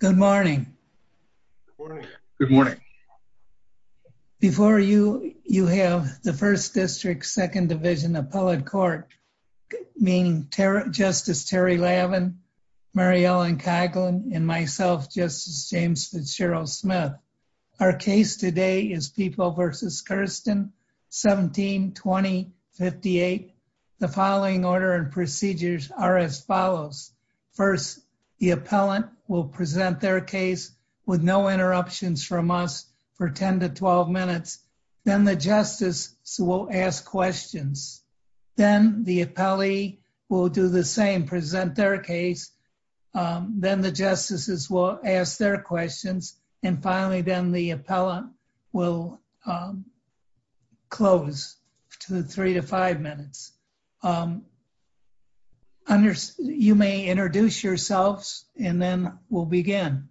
Good morning. Good morning. Before you, you have the 1st District, 2nd Division Appellate Court, meaning Justice Terry Lavin, Mary Ellen Coughlin, and myself, Justice James Fitzgerald Smith. Our case today is People v. Kirsten-17-2058. The following order and procedures are as follows. First, the appellant will present their case with no interruptions from us for 10-12 minutes. Then the justices will ask questions. Then the appellee will do the same, present their case. Then the justices will ask their questions. And finally, then the appellant will close to the 3-5 minutes. You may introduce yourselves and then we'll begin.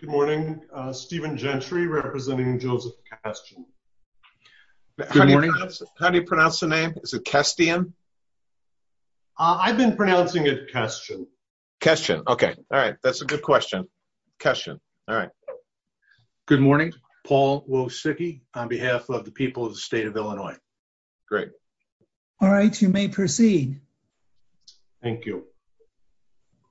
Good morning. Stephen Gentry representing Joseph Kestian. How do you pronounce the name? Is it Kestian? I've been pronouncing it Kestian. Kestian. Okay. All right. That's a good question. Kestian. All right. Good morning. My name is Paul Wosicki on behalf of the people of the state of Illinois. Great. All right. You may proceed. Thank you.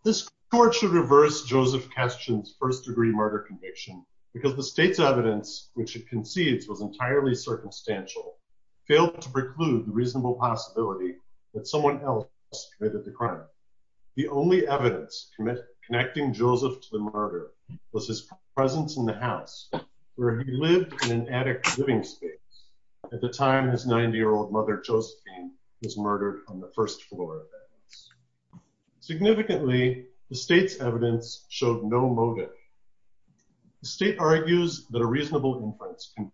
This court should reverse Joseph Kestian's first-degree murder conviction because the state's evidence, which it concedes was entirely circumstantial, failed to preclude the reasonable possibility that someone else committed the crime. The only evidence connecting Joseph to the murder was his presence in the home where he lived in an attic living space at the time his 90-year-old mother, Josephine, was murdered on the first floor. Significantly, the state's evidence showed no motive. The state argues that a reasonable inference can be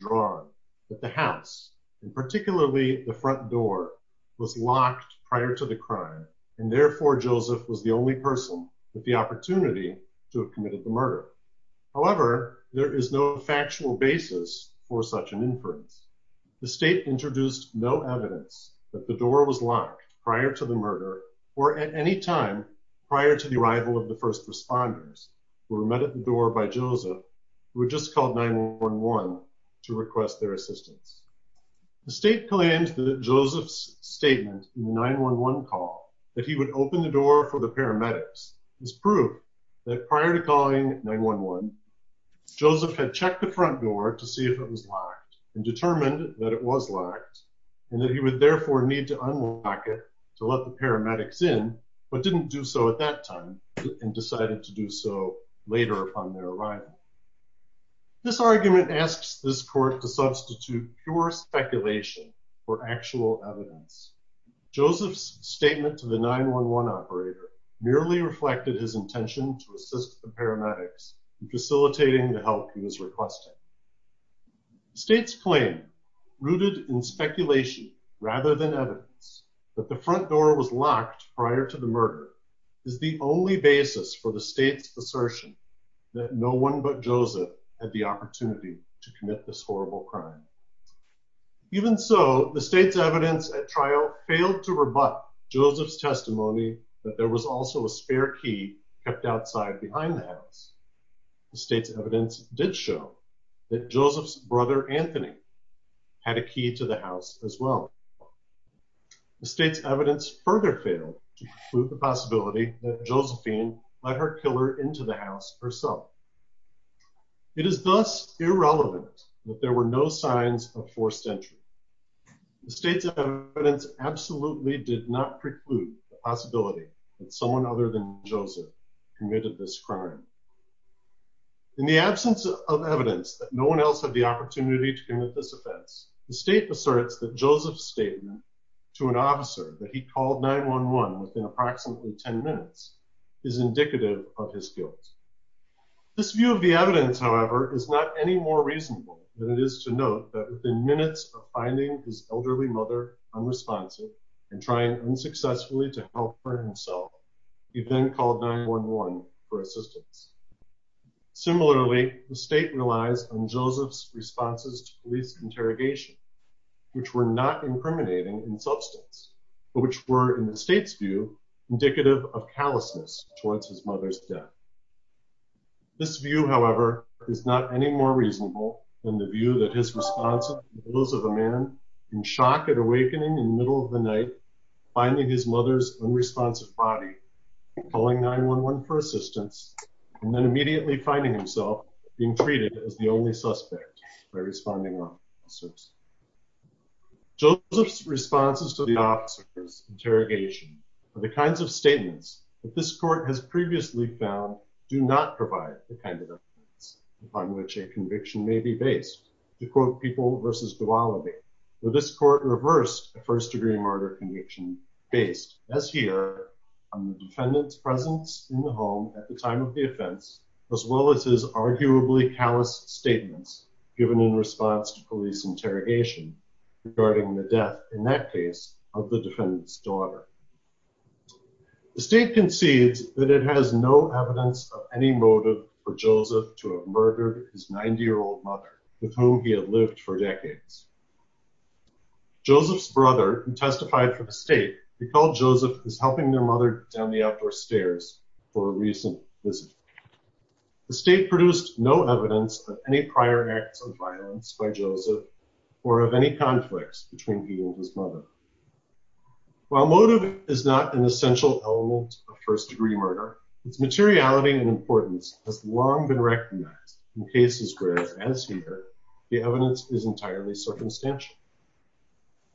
drawn that the house, and particularly the front door, was locked prior to the crime, and therefore Joseph was the only person with the opportunity to have committed the murder. However, there is no factual basis for such an inference. The state introduced no evidence that the door was locked prior to the murder or at any time prior to the arrival of the first responders who were met at the door by Joseph, who had just called 911 to request their assistance. The state claims that Joseph's statement in the 911 call, that he would open the door for the paramedics, is proof that prior to calling 911, Joseph had checked the front door to see if it was locked and determined that it was locked and that he would therefore need to unlock it to let the paramedics in, but didn't do so at that time, and decided to do so later upon their arrival. This argument asks this court to substitute pure speculation for actual evidence. Joseph's statement to the 911 operator merely reflected his intention to assist the paramedics in facilitating the help he was requesting. The state's claim, rooted in speculation rather than evidence, that the front door was locked prior to the murder, is the only basis for the state's assertion that no one but Joseph had the opportunity to commit this horrible crime. Even so, the state's evidence at trial failed to rebut Joseph's testimony that there was also a spare key kept outside behind the house. The state's evidence did show that Joseph's brother, Anthony, had a key to the house as well. The state's evidence further failed to prove the possibility that Josephine let her killer into the house herself. It is thus irrelevant that there were no signs of forced entry. The state's evidence absolutely did not preclude the possibility that someone other than Joseph committed this crime. In the absence of evidence that no one else had the opportunity to commit this offense, the state asserts that Joseph's statement to an officer that he called 911 within approximately 10 minutes is indicative of his guilt. This view of the evidence, however, is not any more reasonable than it is to note that within minutes of finding his elderly mother unresponsive and trying unsuccessfully to help her himself, he then called 911 for assistance. Similarly, the state relies on Joseph's responses to police interrogation, which were not incriminating in substance, but which were in the state's view indicative of callousness towards his mother's death. This view, however, is not any more reasonable than the view that his response to the wills of a man in shock at awakening in the middle of the night, finding his mother's unresponsive body, calling 911 for assistance and then immediately finding himself being treated as the only suspect by responding officers. Joseph's responses to the officer's interrogation are the kinds of statements that this court has previously found do not provide the kind of evidence upon which a conviction may be based to quote people versus duality. So this court reversed a first degree murder conviction based as here on the defendant's presence in the home at the time of the offense, as well as his arguably callous statements given in response to police interrogation regarding the death in that case of the defendant's daughter. The state concedes that it has no evidence of any motive for Joseph to have murdered his 90 year old mother with whom he had lived for decades. Joseph's brother testified for the state because Joseph is helping their mother down the outdoor stairs for a recent visit. The state produced no evidence of any prior acts of violence by Joseph, or of any conflicts between he and his mother. While motive is not an essential element of first degree murder, its materiality and importance has long been recognized in cases, whereas as here, the evidence is entirely circumstantial.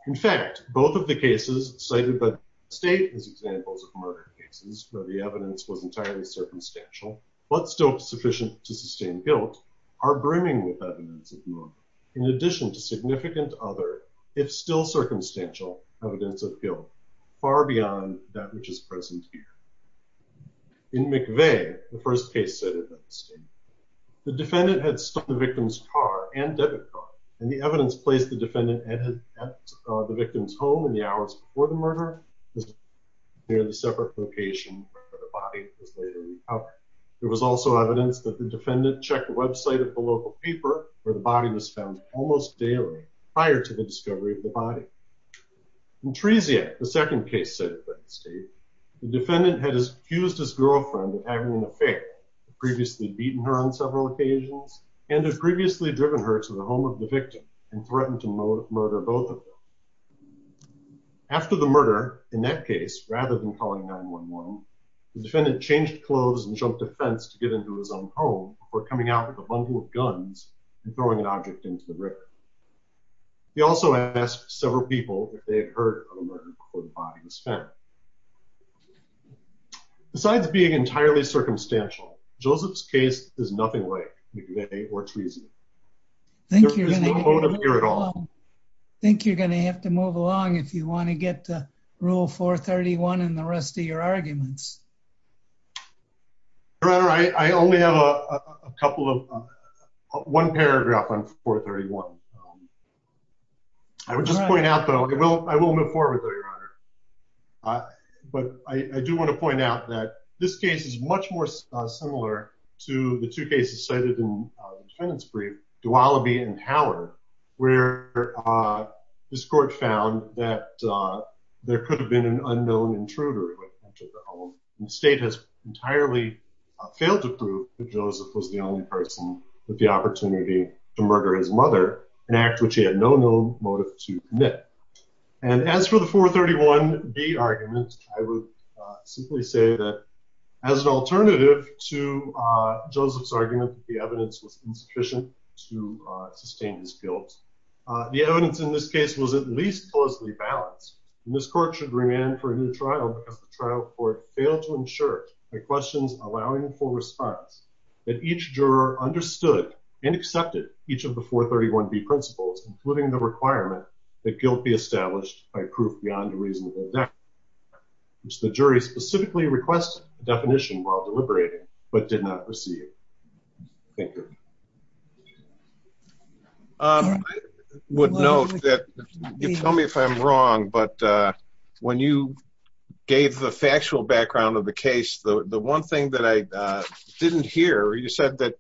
In fact, both of the cases cited by the state as examples of murder cases, where the evidence was entirely circumstantial, in addition to significant other, if still circumstantial, evidence of guilt, far beyond that which is present here. In McVeigh, the first case cited by the state, the defendant had stolen the victim's car and debit card, and the evidence placed the defendant at the victim's home in the hours before the murder, near the separate location where the body was later recovered. There was also evidence that the defendant checked the website of the local paper where the body was found almost daily prior to the discovery of the body. In Tresia, the second case cited by the state, the defendant had accused his girlfriend of having an affair, had previously beaten her on several occasions, and had previously driven her to the home of the victim, and threatened to murder both of them. After the murder, in that case, rather than calling 911, the defendant changed clothes and jumped a fence to get into his own home, before coming out with a bundle of guns and throwing an object into the river. He also asked several people if they had heard of the murder before the body was found. Besides being entirely circumstantial, Joseph's case is nothing like McVeigh or Tresia. There is no motive here at all. I think you're going to have to move along if you want to get to Rule 431 and the rest of your arguments. Your Honor, I only have a couple of, one paragraph on 431. I would just point out though, I will move forward though, Your Honor. But I do want to point out that this case is much more similar to the two cases cited in the defendant's brief, Duoloby and Howard, where this court found that there could have been an unknown intruder who had entered the home, and the state has entirely failed to prove that Joseph was the only person with the opportunity to murder his mother, an act which he had no known motive to commit. And as for the 431B argument, I would simply say that as an alternative to Joseph's argument that the evidence was insufficient to sustain his guilt, the evidence in this case was at least closely balanced. And this court should remand for a new trial because the trial court failed to ensure, by questions allowing for response, that each juror understood and accepted each of the 431B principles, including the requirement that guilt be established by proof beyond a reasonable doubt, which the jury specifically requested a definition while deliberating, but did not receive. Thank you. I would note that, you tell me if I'm wrong, but when you gave the factual background of the case, the one thing that I didn't hear, you said that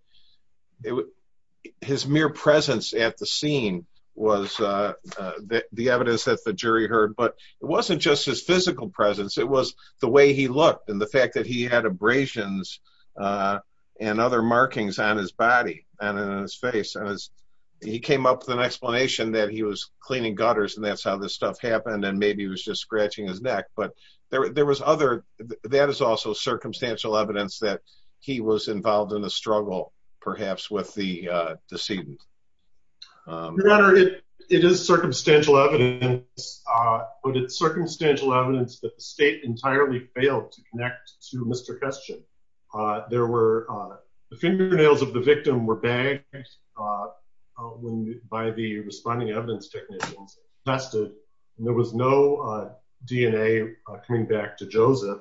his mere presence at the scene was the evidence that the jury heard, but it wasn't just his physical presence, it was the way he looked and the fact that he had abrasions and other markings on his body and on his face. He came up with an explanation that he was cleaning gutters and that's how this stuff happened, and maybe he was just scratching his neck, but there was other, that is also circumstantial evidence that he was involved in a struggle, perhaps, with the decedent. Your Honor, it is circumstantial evidence, but it's circumstantial evidence that the state entirely failed to connect to Mr. Kestchen. The fingernails of the victim were bagged by the responding evidence technicians and tested, and there was no DNA coming back to Joseph.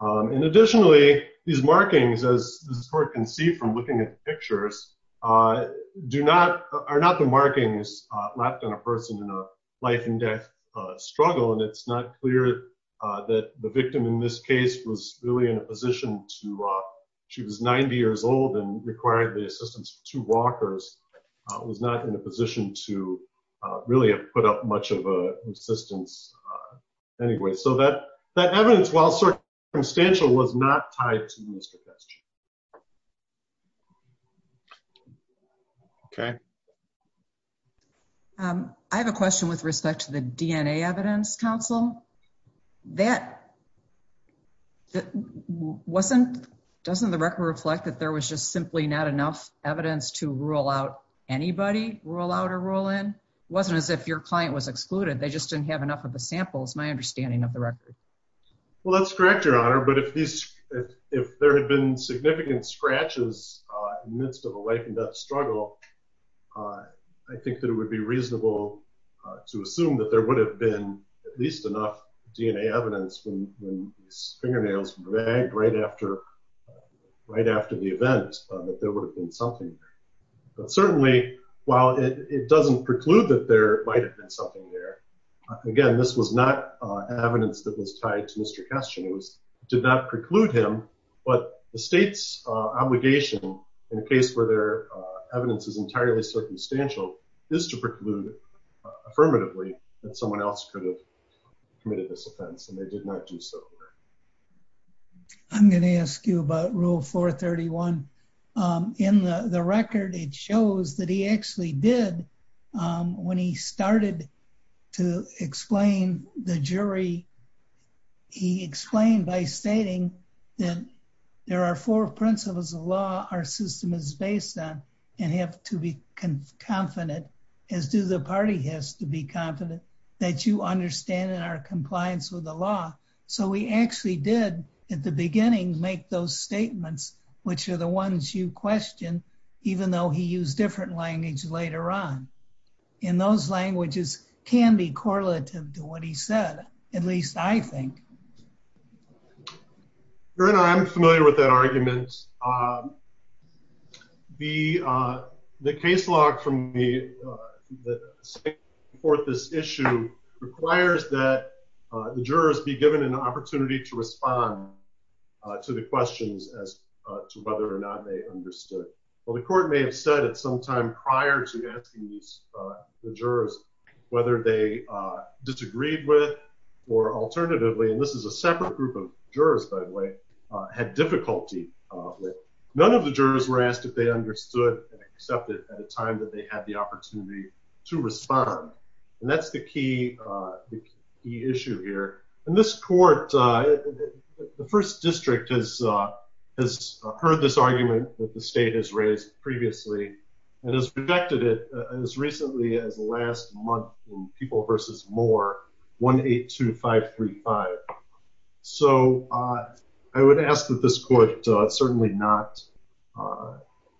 And additionally, these markings, as the court can see from looking at the pictures, are not the markings left on a person in a life-and-death struggle, and it's not clear that the victim in this case was really in a position to, she was 90 years old and required the assistance of two walkers, was not in a position to really have put up much of an assistance anyway. So that evidence, while circumstantial, was not tied to Mr. Kestchen. Okay. I have a question with respect to the DNA evidence, counsel. That wasn't, doesn't the record reflect that there was just simply not enough evidence to rule out anybody, rule out or rule in? It wasn't as if your client was excluded, they just didn't have enough of the samples, is my understanding of the record. Well, that's correct, Your Honor. But if there had been significant scratches in the midst of a life-and-death struggle, I think that it would be reasonable to assume that there would have been at least enough DNA evidence when these fingernails were dragged right after the event, that there would have been something. But certainly, while it doesn't preclude that there might have been something there, again, this was not evidence that was tied to Mr. Kestchen. It did not preclude him, but the state's obligation in a case where their evidence is entirely circumstantial is to preclude affirmatively that someone else could have committed this offense, and they did not do so. I'm going to ask you about Rule 431. In the record, it shows that he actually did, when he started to explain the jury, he explained by stating that there are four principles of law our system is based on and have to be confident, as do the party has to be confident, that you understand in our compliance with the law. So he actually did, at the beginning, make those statements, which are the ones you question, even though he used different language later on. And those languages can be correlative to what he said, at least I think. I'm familiar with that argument. The case log from the state court this issue requires that the jurors be given an opportunity to respond to the questions as to whether or not they understood. Well, the court may have said it sometime prior to asking the jurors whether they disagreed with or alternatively, and this is a separate group of jurors, by the way, had difficulty. None of the jurors were asked if they understood and accepted at a time that they had the opportunity to respond. And that's the key issue here. In this court, the first district has heard this argument that the state has raised previously and has rejected it as recently as last month in People v. Moore, 182535. So I would ask that this court certainly not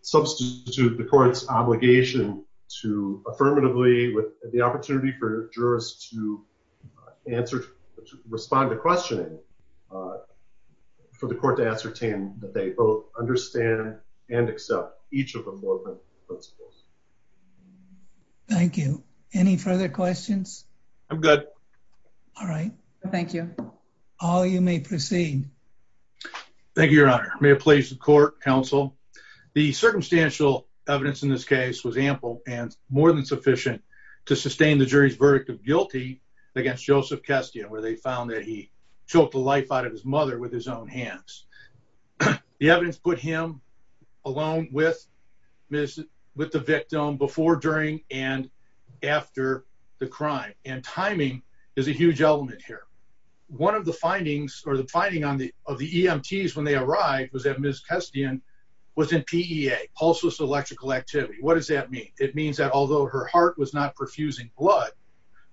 substitute the court's obligation to affirmatively with the opportunity for jurors to answer, to respond to questioning for the court to ascertain that they both understand and accept each of them. Thank you. Any further questions? I'm good. All right. Thank you. All you may proceed. Thank you, Your Honor. May it please the court, counsel. The circumstantial evidence in this case was ample and more than sufficient to sustain the jury's verdict of guilty against Joseph Kestia, where they found that he choked the life out of his mother with his own hands. The evidence put him alone with the victim before, during, and after the crime. And timing is a huge element here. One of the findings or the finding of the EMTs when they arrived was that Ms. Kestian was in PEA, Pulseless Electrical Activity. What does that mean? It means that although her heart was not perfusing blood,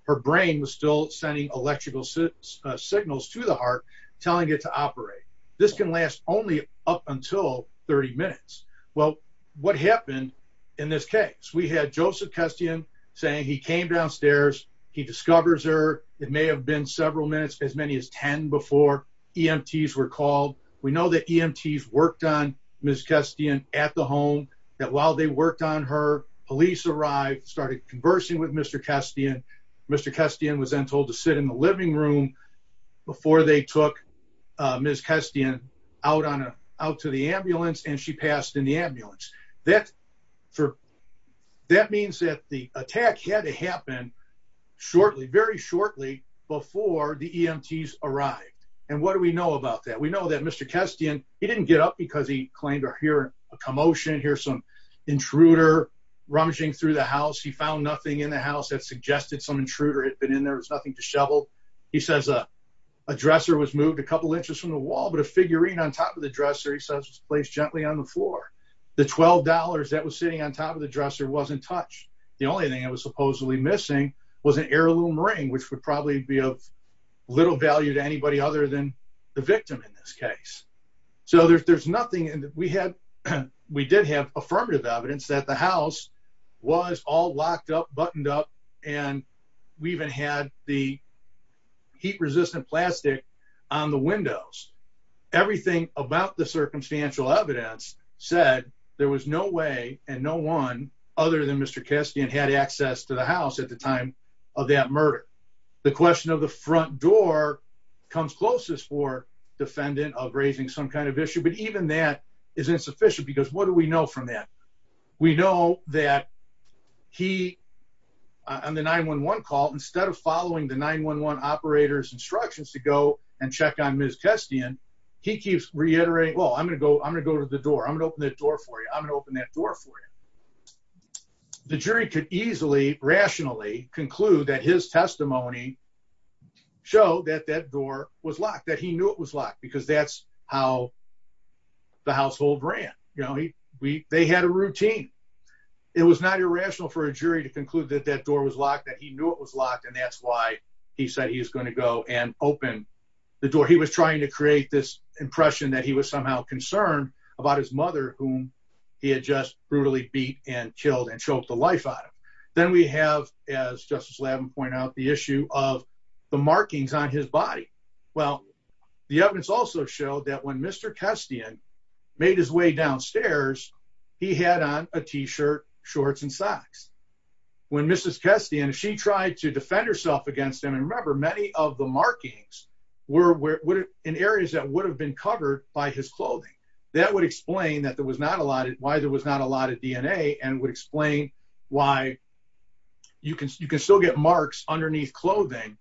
her brain was still sending electrical signals to the heart telling it to operate. This can last only up until 30 minutes. Well, what happened in this case? We had Joseph Kestian saying he came downstairs. He discovers her. It may have been several minutes, as many as 10, before EMTs were called. We know that EMTs worked on Ms. Kestian at the home, that while they worked on her, police arrived, started conversing with Mr. Kestian. Mr. Kestian was then told to sit in the living room before they took Ms. Kestian out to the ambulance, and she passed in the ambulance. That means that the attack had to happen shortly, very shortly, before the EMTs arrived. And what do we know about that? We know that Mr. Kestian, he didn't get up because he claimed to hear a commotion, hear some intruder rummaging through the house. He found nothing in the house that suggested some intruder had been in there. There was nothing to shovel. He says a dresser was moved a couple inches from the wall, but a figurine on top of the dresser, he says, was placed gently on the floor. The $12 that was sitting on top of the dresser wasn't touched. The only thing that was supposedly missing was an heirloom ring, which would probably be of little value to anybody other than the victim in this case. So there's nothing. We did have affirmative evidence that the house was all locked up, buttoned up, and we even had the heat-resistant plastic on the windows. Everything about the circumstantial evidence said there was no way and no one other than Mr. Kestian had access to the house at the time of that murder. The question of the front door comes closest for defendant of raising some kind of issue, but even that is insufficient because what do we know from that? We know that he, on the 911 call, instead of following the 911 operator's instructions to go and check on Ms. Kestian, he keeps reiterating, I'm going to go to the door, I'm going to open that door for you, I'm going to open that door for you. The jury could easily, rationally conclude that his testimony showed that that door was locked, that he knew it was locked, because that's how the household ran. They had a routine. It was not irrational for a jury to conclude that that door was locked, that he knew it was locked, and that's why he said he was going to go and open the door. Or he was trying to create this impression that he was somehow concerned about his mother, whom he had just brutally beat and killed and choked the life out of. Then we have, as Justice Lavin pointed out, the issue of the markings on his body. Well, the evidence also showed that when Mr. Kestian made his way downstairs, he had on a t-shirt, shorts, and socks. When Mrs. Kestian, she tried to defend herself against him, and remember, many of the markings were in areas that would have been covered by his clothing. That would explain why there was not a lot of DNA, and would explain why you can still get marks underneath clothing,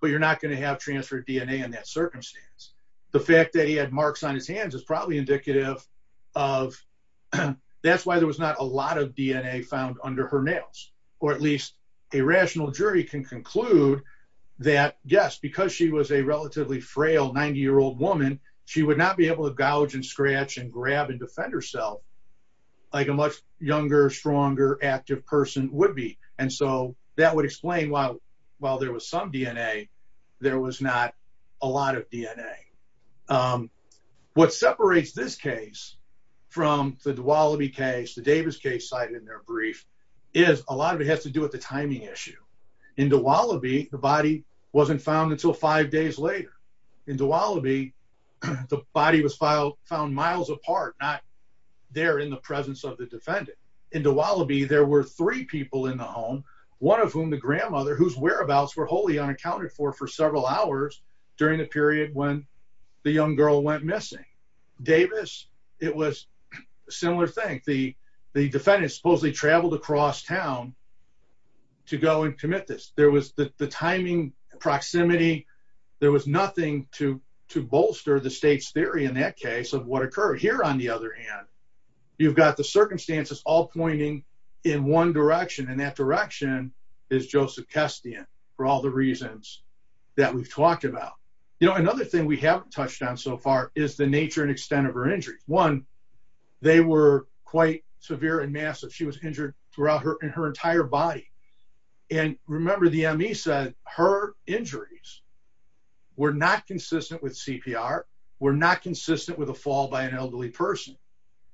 but you're not going to have transferred DNA in that circumstance. The fact that he had marks on his hands is probably indicative of that's why there was not a lot of DNA found under her nails. Or at least a rational jury can conclude that, yes, because she was a relatively frail 90-year-old woman, she would not be able to gouge and scratch and grab and defend herself like a much younger, stronger, active person would be. And so that would explain why, while there was some DNA, there was not a lot of DNA. What separates this case from the Dowaliby case, the Davis case cited in their brief, is a lot of it has to do with the timing issue. In Dowaliby, the body wasn't found until five days later. In Dowaliby, the body was found miles apart, not there in the presence of the defendant. In Dowaliby, there were three people in the home, one of whom the grandmother, whose whereabouts were wholly unaccounted for for several hours during the period when the young girl went missing. Davis, it was a similar thing. The defendant supposedly traveled across town to go and commit this. There was the timing, proximity. There was nothing to bolster the state's theory in that case of what occurred. Over here, on the other hand, you've got the circumstances all pointing in one direction. And that direction is Joseph Kestian, for all the reasons that we've talked about. You know, another thing we haven't touched on so far is the nature and extent of her injuries. One, they were quite severe and massive. She was injured throughout her entire body. Remember, the ME said her injuries were not consistent with CPR, were not consistent with a fall by an elderly person.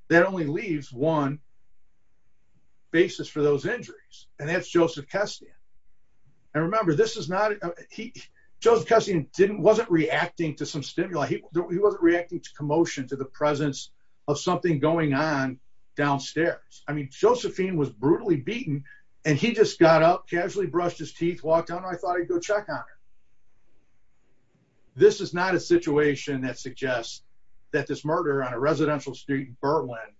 That only leaves one basis for those injuries, and that's Joseph Kestian. Remember, Joseph Kestian wasn't reacting to some stimuli. He wasn't reacting to commotion, to the presence of something going on downstairs. I mean, Josephine was brutally beaten, and he just got up, casually brushed his teeth, walked out, and I thought I'd go check on her. This is not a situation that suggests that this murder on a residential street in Birtland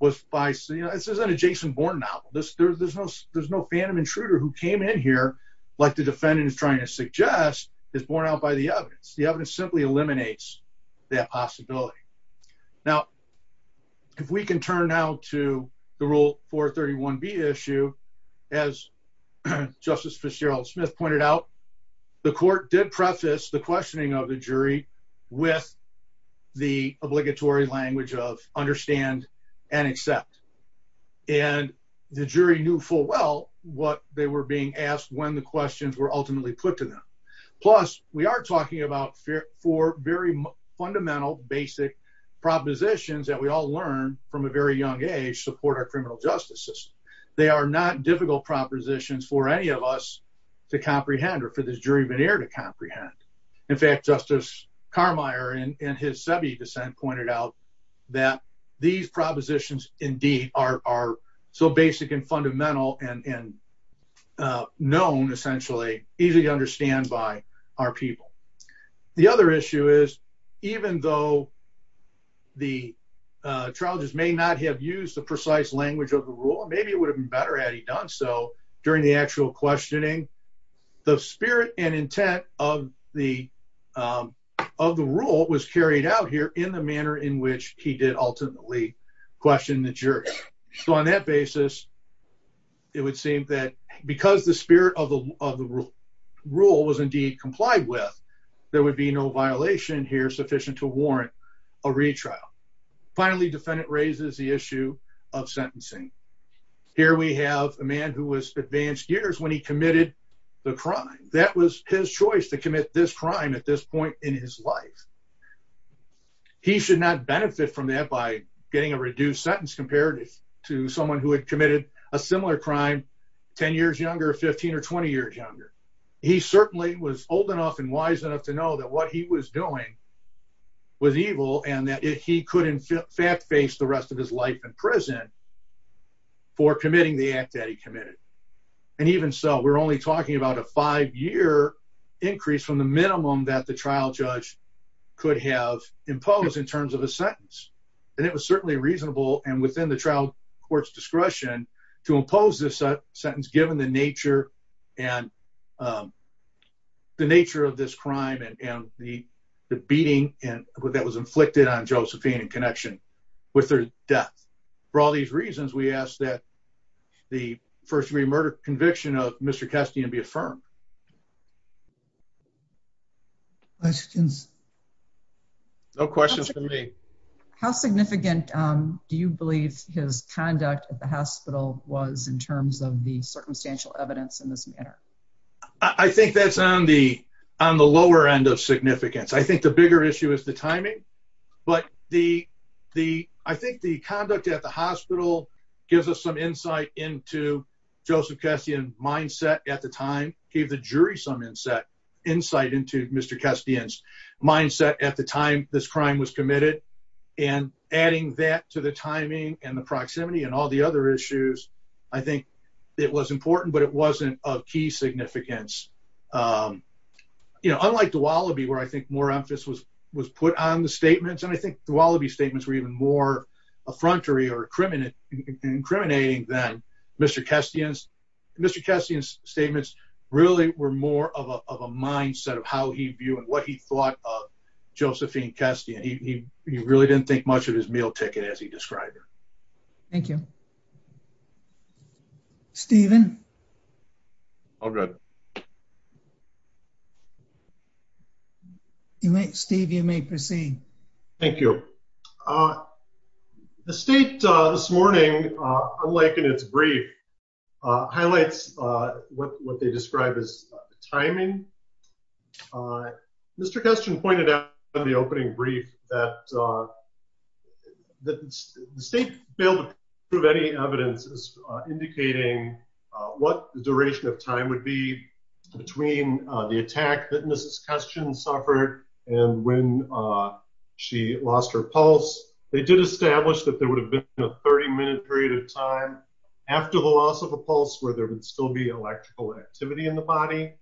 was by—this isn't a Jason Bourne novel. There's no phantom intruder who came in here, like the defendant is trying to suggest, is borne out by the evidence. The evidence simply eliminates that possibility. Now, if we can turn now to the Rule 431B issue, as Justice Fitzgerald Smith pointed out, the court did preface the questioning of the jury with the obligatory language of understand and accept, and the jury knew full well what they were being asked when the questions were ultimately put to them. Plus, we are talking about four very fundamental, basic propositions that we all learned from a very young age support our criminal justice system. They are not difficult propositions for any of us to comprehend or for this jury veneer to comprehend. In fact, Justice Carmier, in his Sebi dissent, pointed out that these propositions indeed are so basic and fundamental and known, essentially, easy to understand by our people. The other issue is, even though the trial just may not have used the precise language of the rule, and maybe it would have been better had he done so during the actual questioning, the spirit and intent of the rule was carried out here in the manner in which he did ultimately question the jury. So on that basis, it would seem that because the spirit of the rule was indeed complied with, there would be no violation here sufficient to warrant a retrial. Finally, defendant raises the issue of sentencing. Here we have a man who was advanced years when he committed the crime. That was his choice to commit this crime at this point in his life. He should not benefit from that by getting a reduced sentence compared to someone who had committed a similar crime 10 years younger, 15 or 20 years younger. He certainly was old enough and wise enough to know that what he was doing was evil and that he could in fact face the rest of his life in prison for committing the act that he committed. And even so, we're only talking about a five-year increase from the minimum that the trial judge could have imposed in terms of a sentence. And it was certainly reasonable and within the trial court's discretion to impose this sentence given the nature of this crime and the beating that was inflicted on Josephine in connection with her death. For all these reasons, we ask that the first-degree murder conviction of Mr. Kestian be affirmed. Questions? No questions for me. How significant do you believe his conduct at the hospital was in terms of the circumstantial evidence in this matter? I think that's on the lower end of significance. I think the bigger issue is the timing. But I think the conduct at the hospital gives us some insight into Joseph Kestian's mindset at the time, gave the jury some insight into Mr. Kestian's mindset at the time this crime was committed. And adding that to the timing and the proximity and all the other issues, I think it was important, but it wasn't of key significance. Unlike Dwalaby, where I think more emphasis was put on the statements, and I think Dwalaby's statements were even more affrontery or incriminating than Mr. Kestian's. Mr. Kestian's statements really were more of a mindset of how he viewed and what he thought of Josephine Kestian. He really didn't think much of his meal ticket as he described her. Thank you. Stephen? All good. Steve, you may proceed. Thank you. The state this morning, unlike in its brief, highlights what they describe as timing. Mr. Kestian pointed out in the opening brief that the state failed to prove any evidence indicating what the duration of time would be between the attack that Mrs. Kestian suffered and when she lost her pulse. They did establish that there would have been a 30-minute period of time after the loss of a pulse where there would still be electrical activity in the body.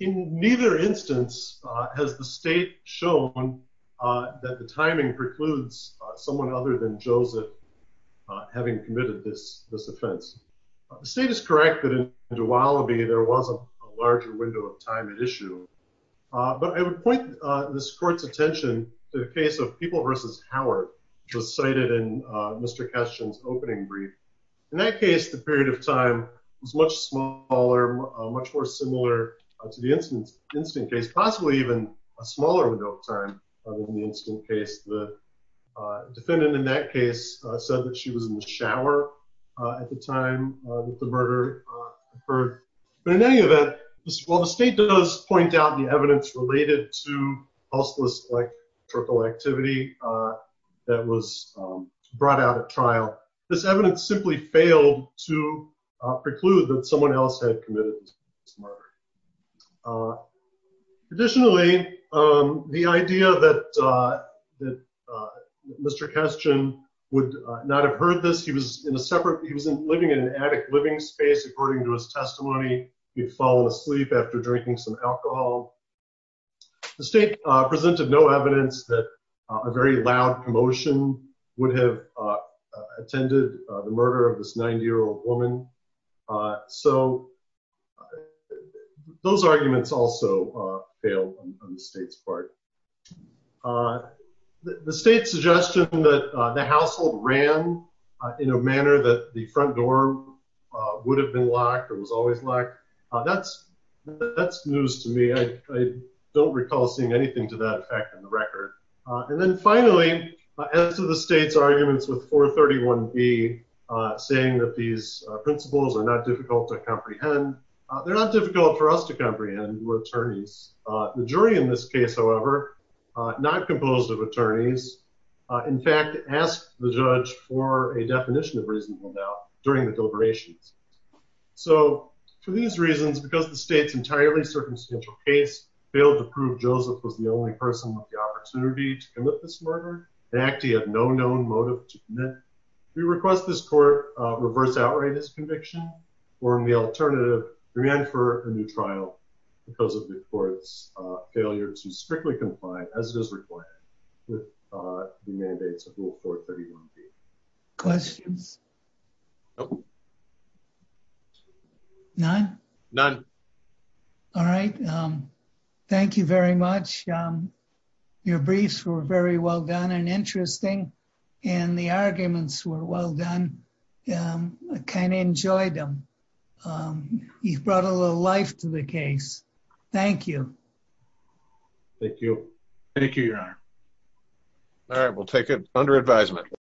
In neither instance has the state shown that the timing precludes someone other than Joseph having committed this offense. The state is correct that in Dwalaby there was a larger window of time at issue. But I would point this court's attention to the case of People v. Howard, which was cited in Mr. Kestian's opening brief. In that case, the period of time was much smaller, much more similar to the instant case, possibly even a smaller window of time than the instant case. The defendant in that case said that she was in the shower at the time that the murder occurred. But in any event, while the state does point out the evidence related to pulse-less electrical activity that was brought out at trial, this evidence simply failed to preclude that someone else had committed this murder. Additionally, the idea that Mr. Kestian would not have heard this, he was living in an attic living space. According to his testimony, he'd fallen asleep after drinking some alcohol. The state presented no evidence that a very loud commotion would have attended the murder of this 90-year-old woman. Those arguments also failed on the state's part. The state's suggestion that the household ran in a manner that the front door would have been locked or was always locked, that's news to me. I don't recall seeing anything to that effect in the record. And then finally, as to the state's arguments with 431B, saying that these principles are not difficult to comprehend, they're not difficult for us to comprehend. We're attorneys. The jury in this case, however, not composed of attorneys, in fact, asked the judge for a definition of reasonable doubt during the deliberations. So, for these reasons, because the state's entirely circumstantial case failed to prove Joseph was the only person with the opportunity to commit this murder, and actually had no known motive to commit, we request this court reverse-outright his conviction or, in the alternative, demand for a new trial because of the court's failure to strictly comply as it is required with the mandates of Rule 431B. Questions? No. None? None. All right. Thank you very much. Your briefs were very well done and interesting, and the arguments were well done. I kind of enjoyed them. You've brought a little life to the case. Thank you. Thank you. Thank you, Your Honor. All right, we'll take it under advisement.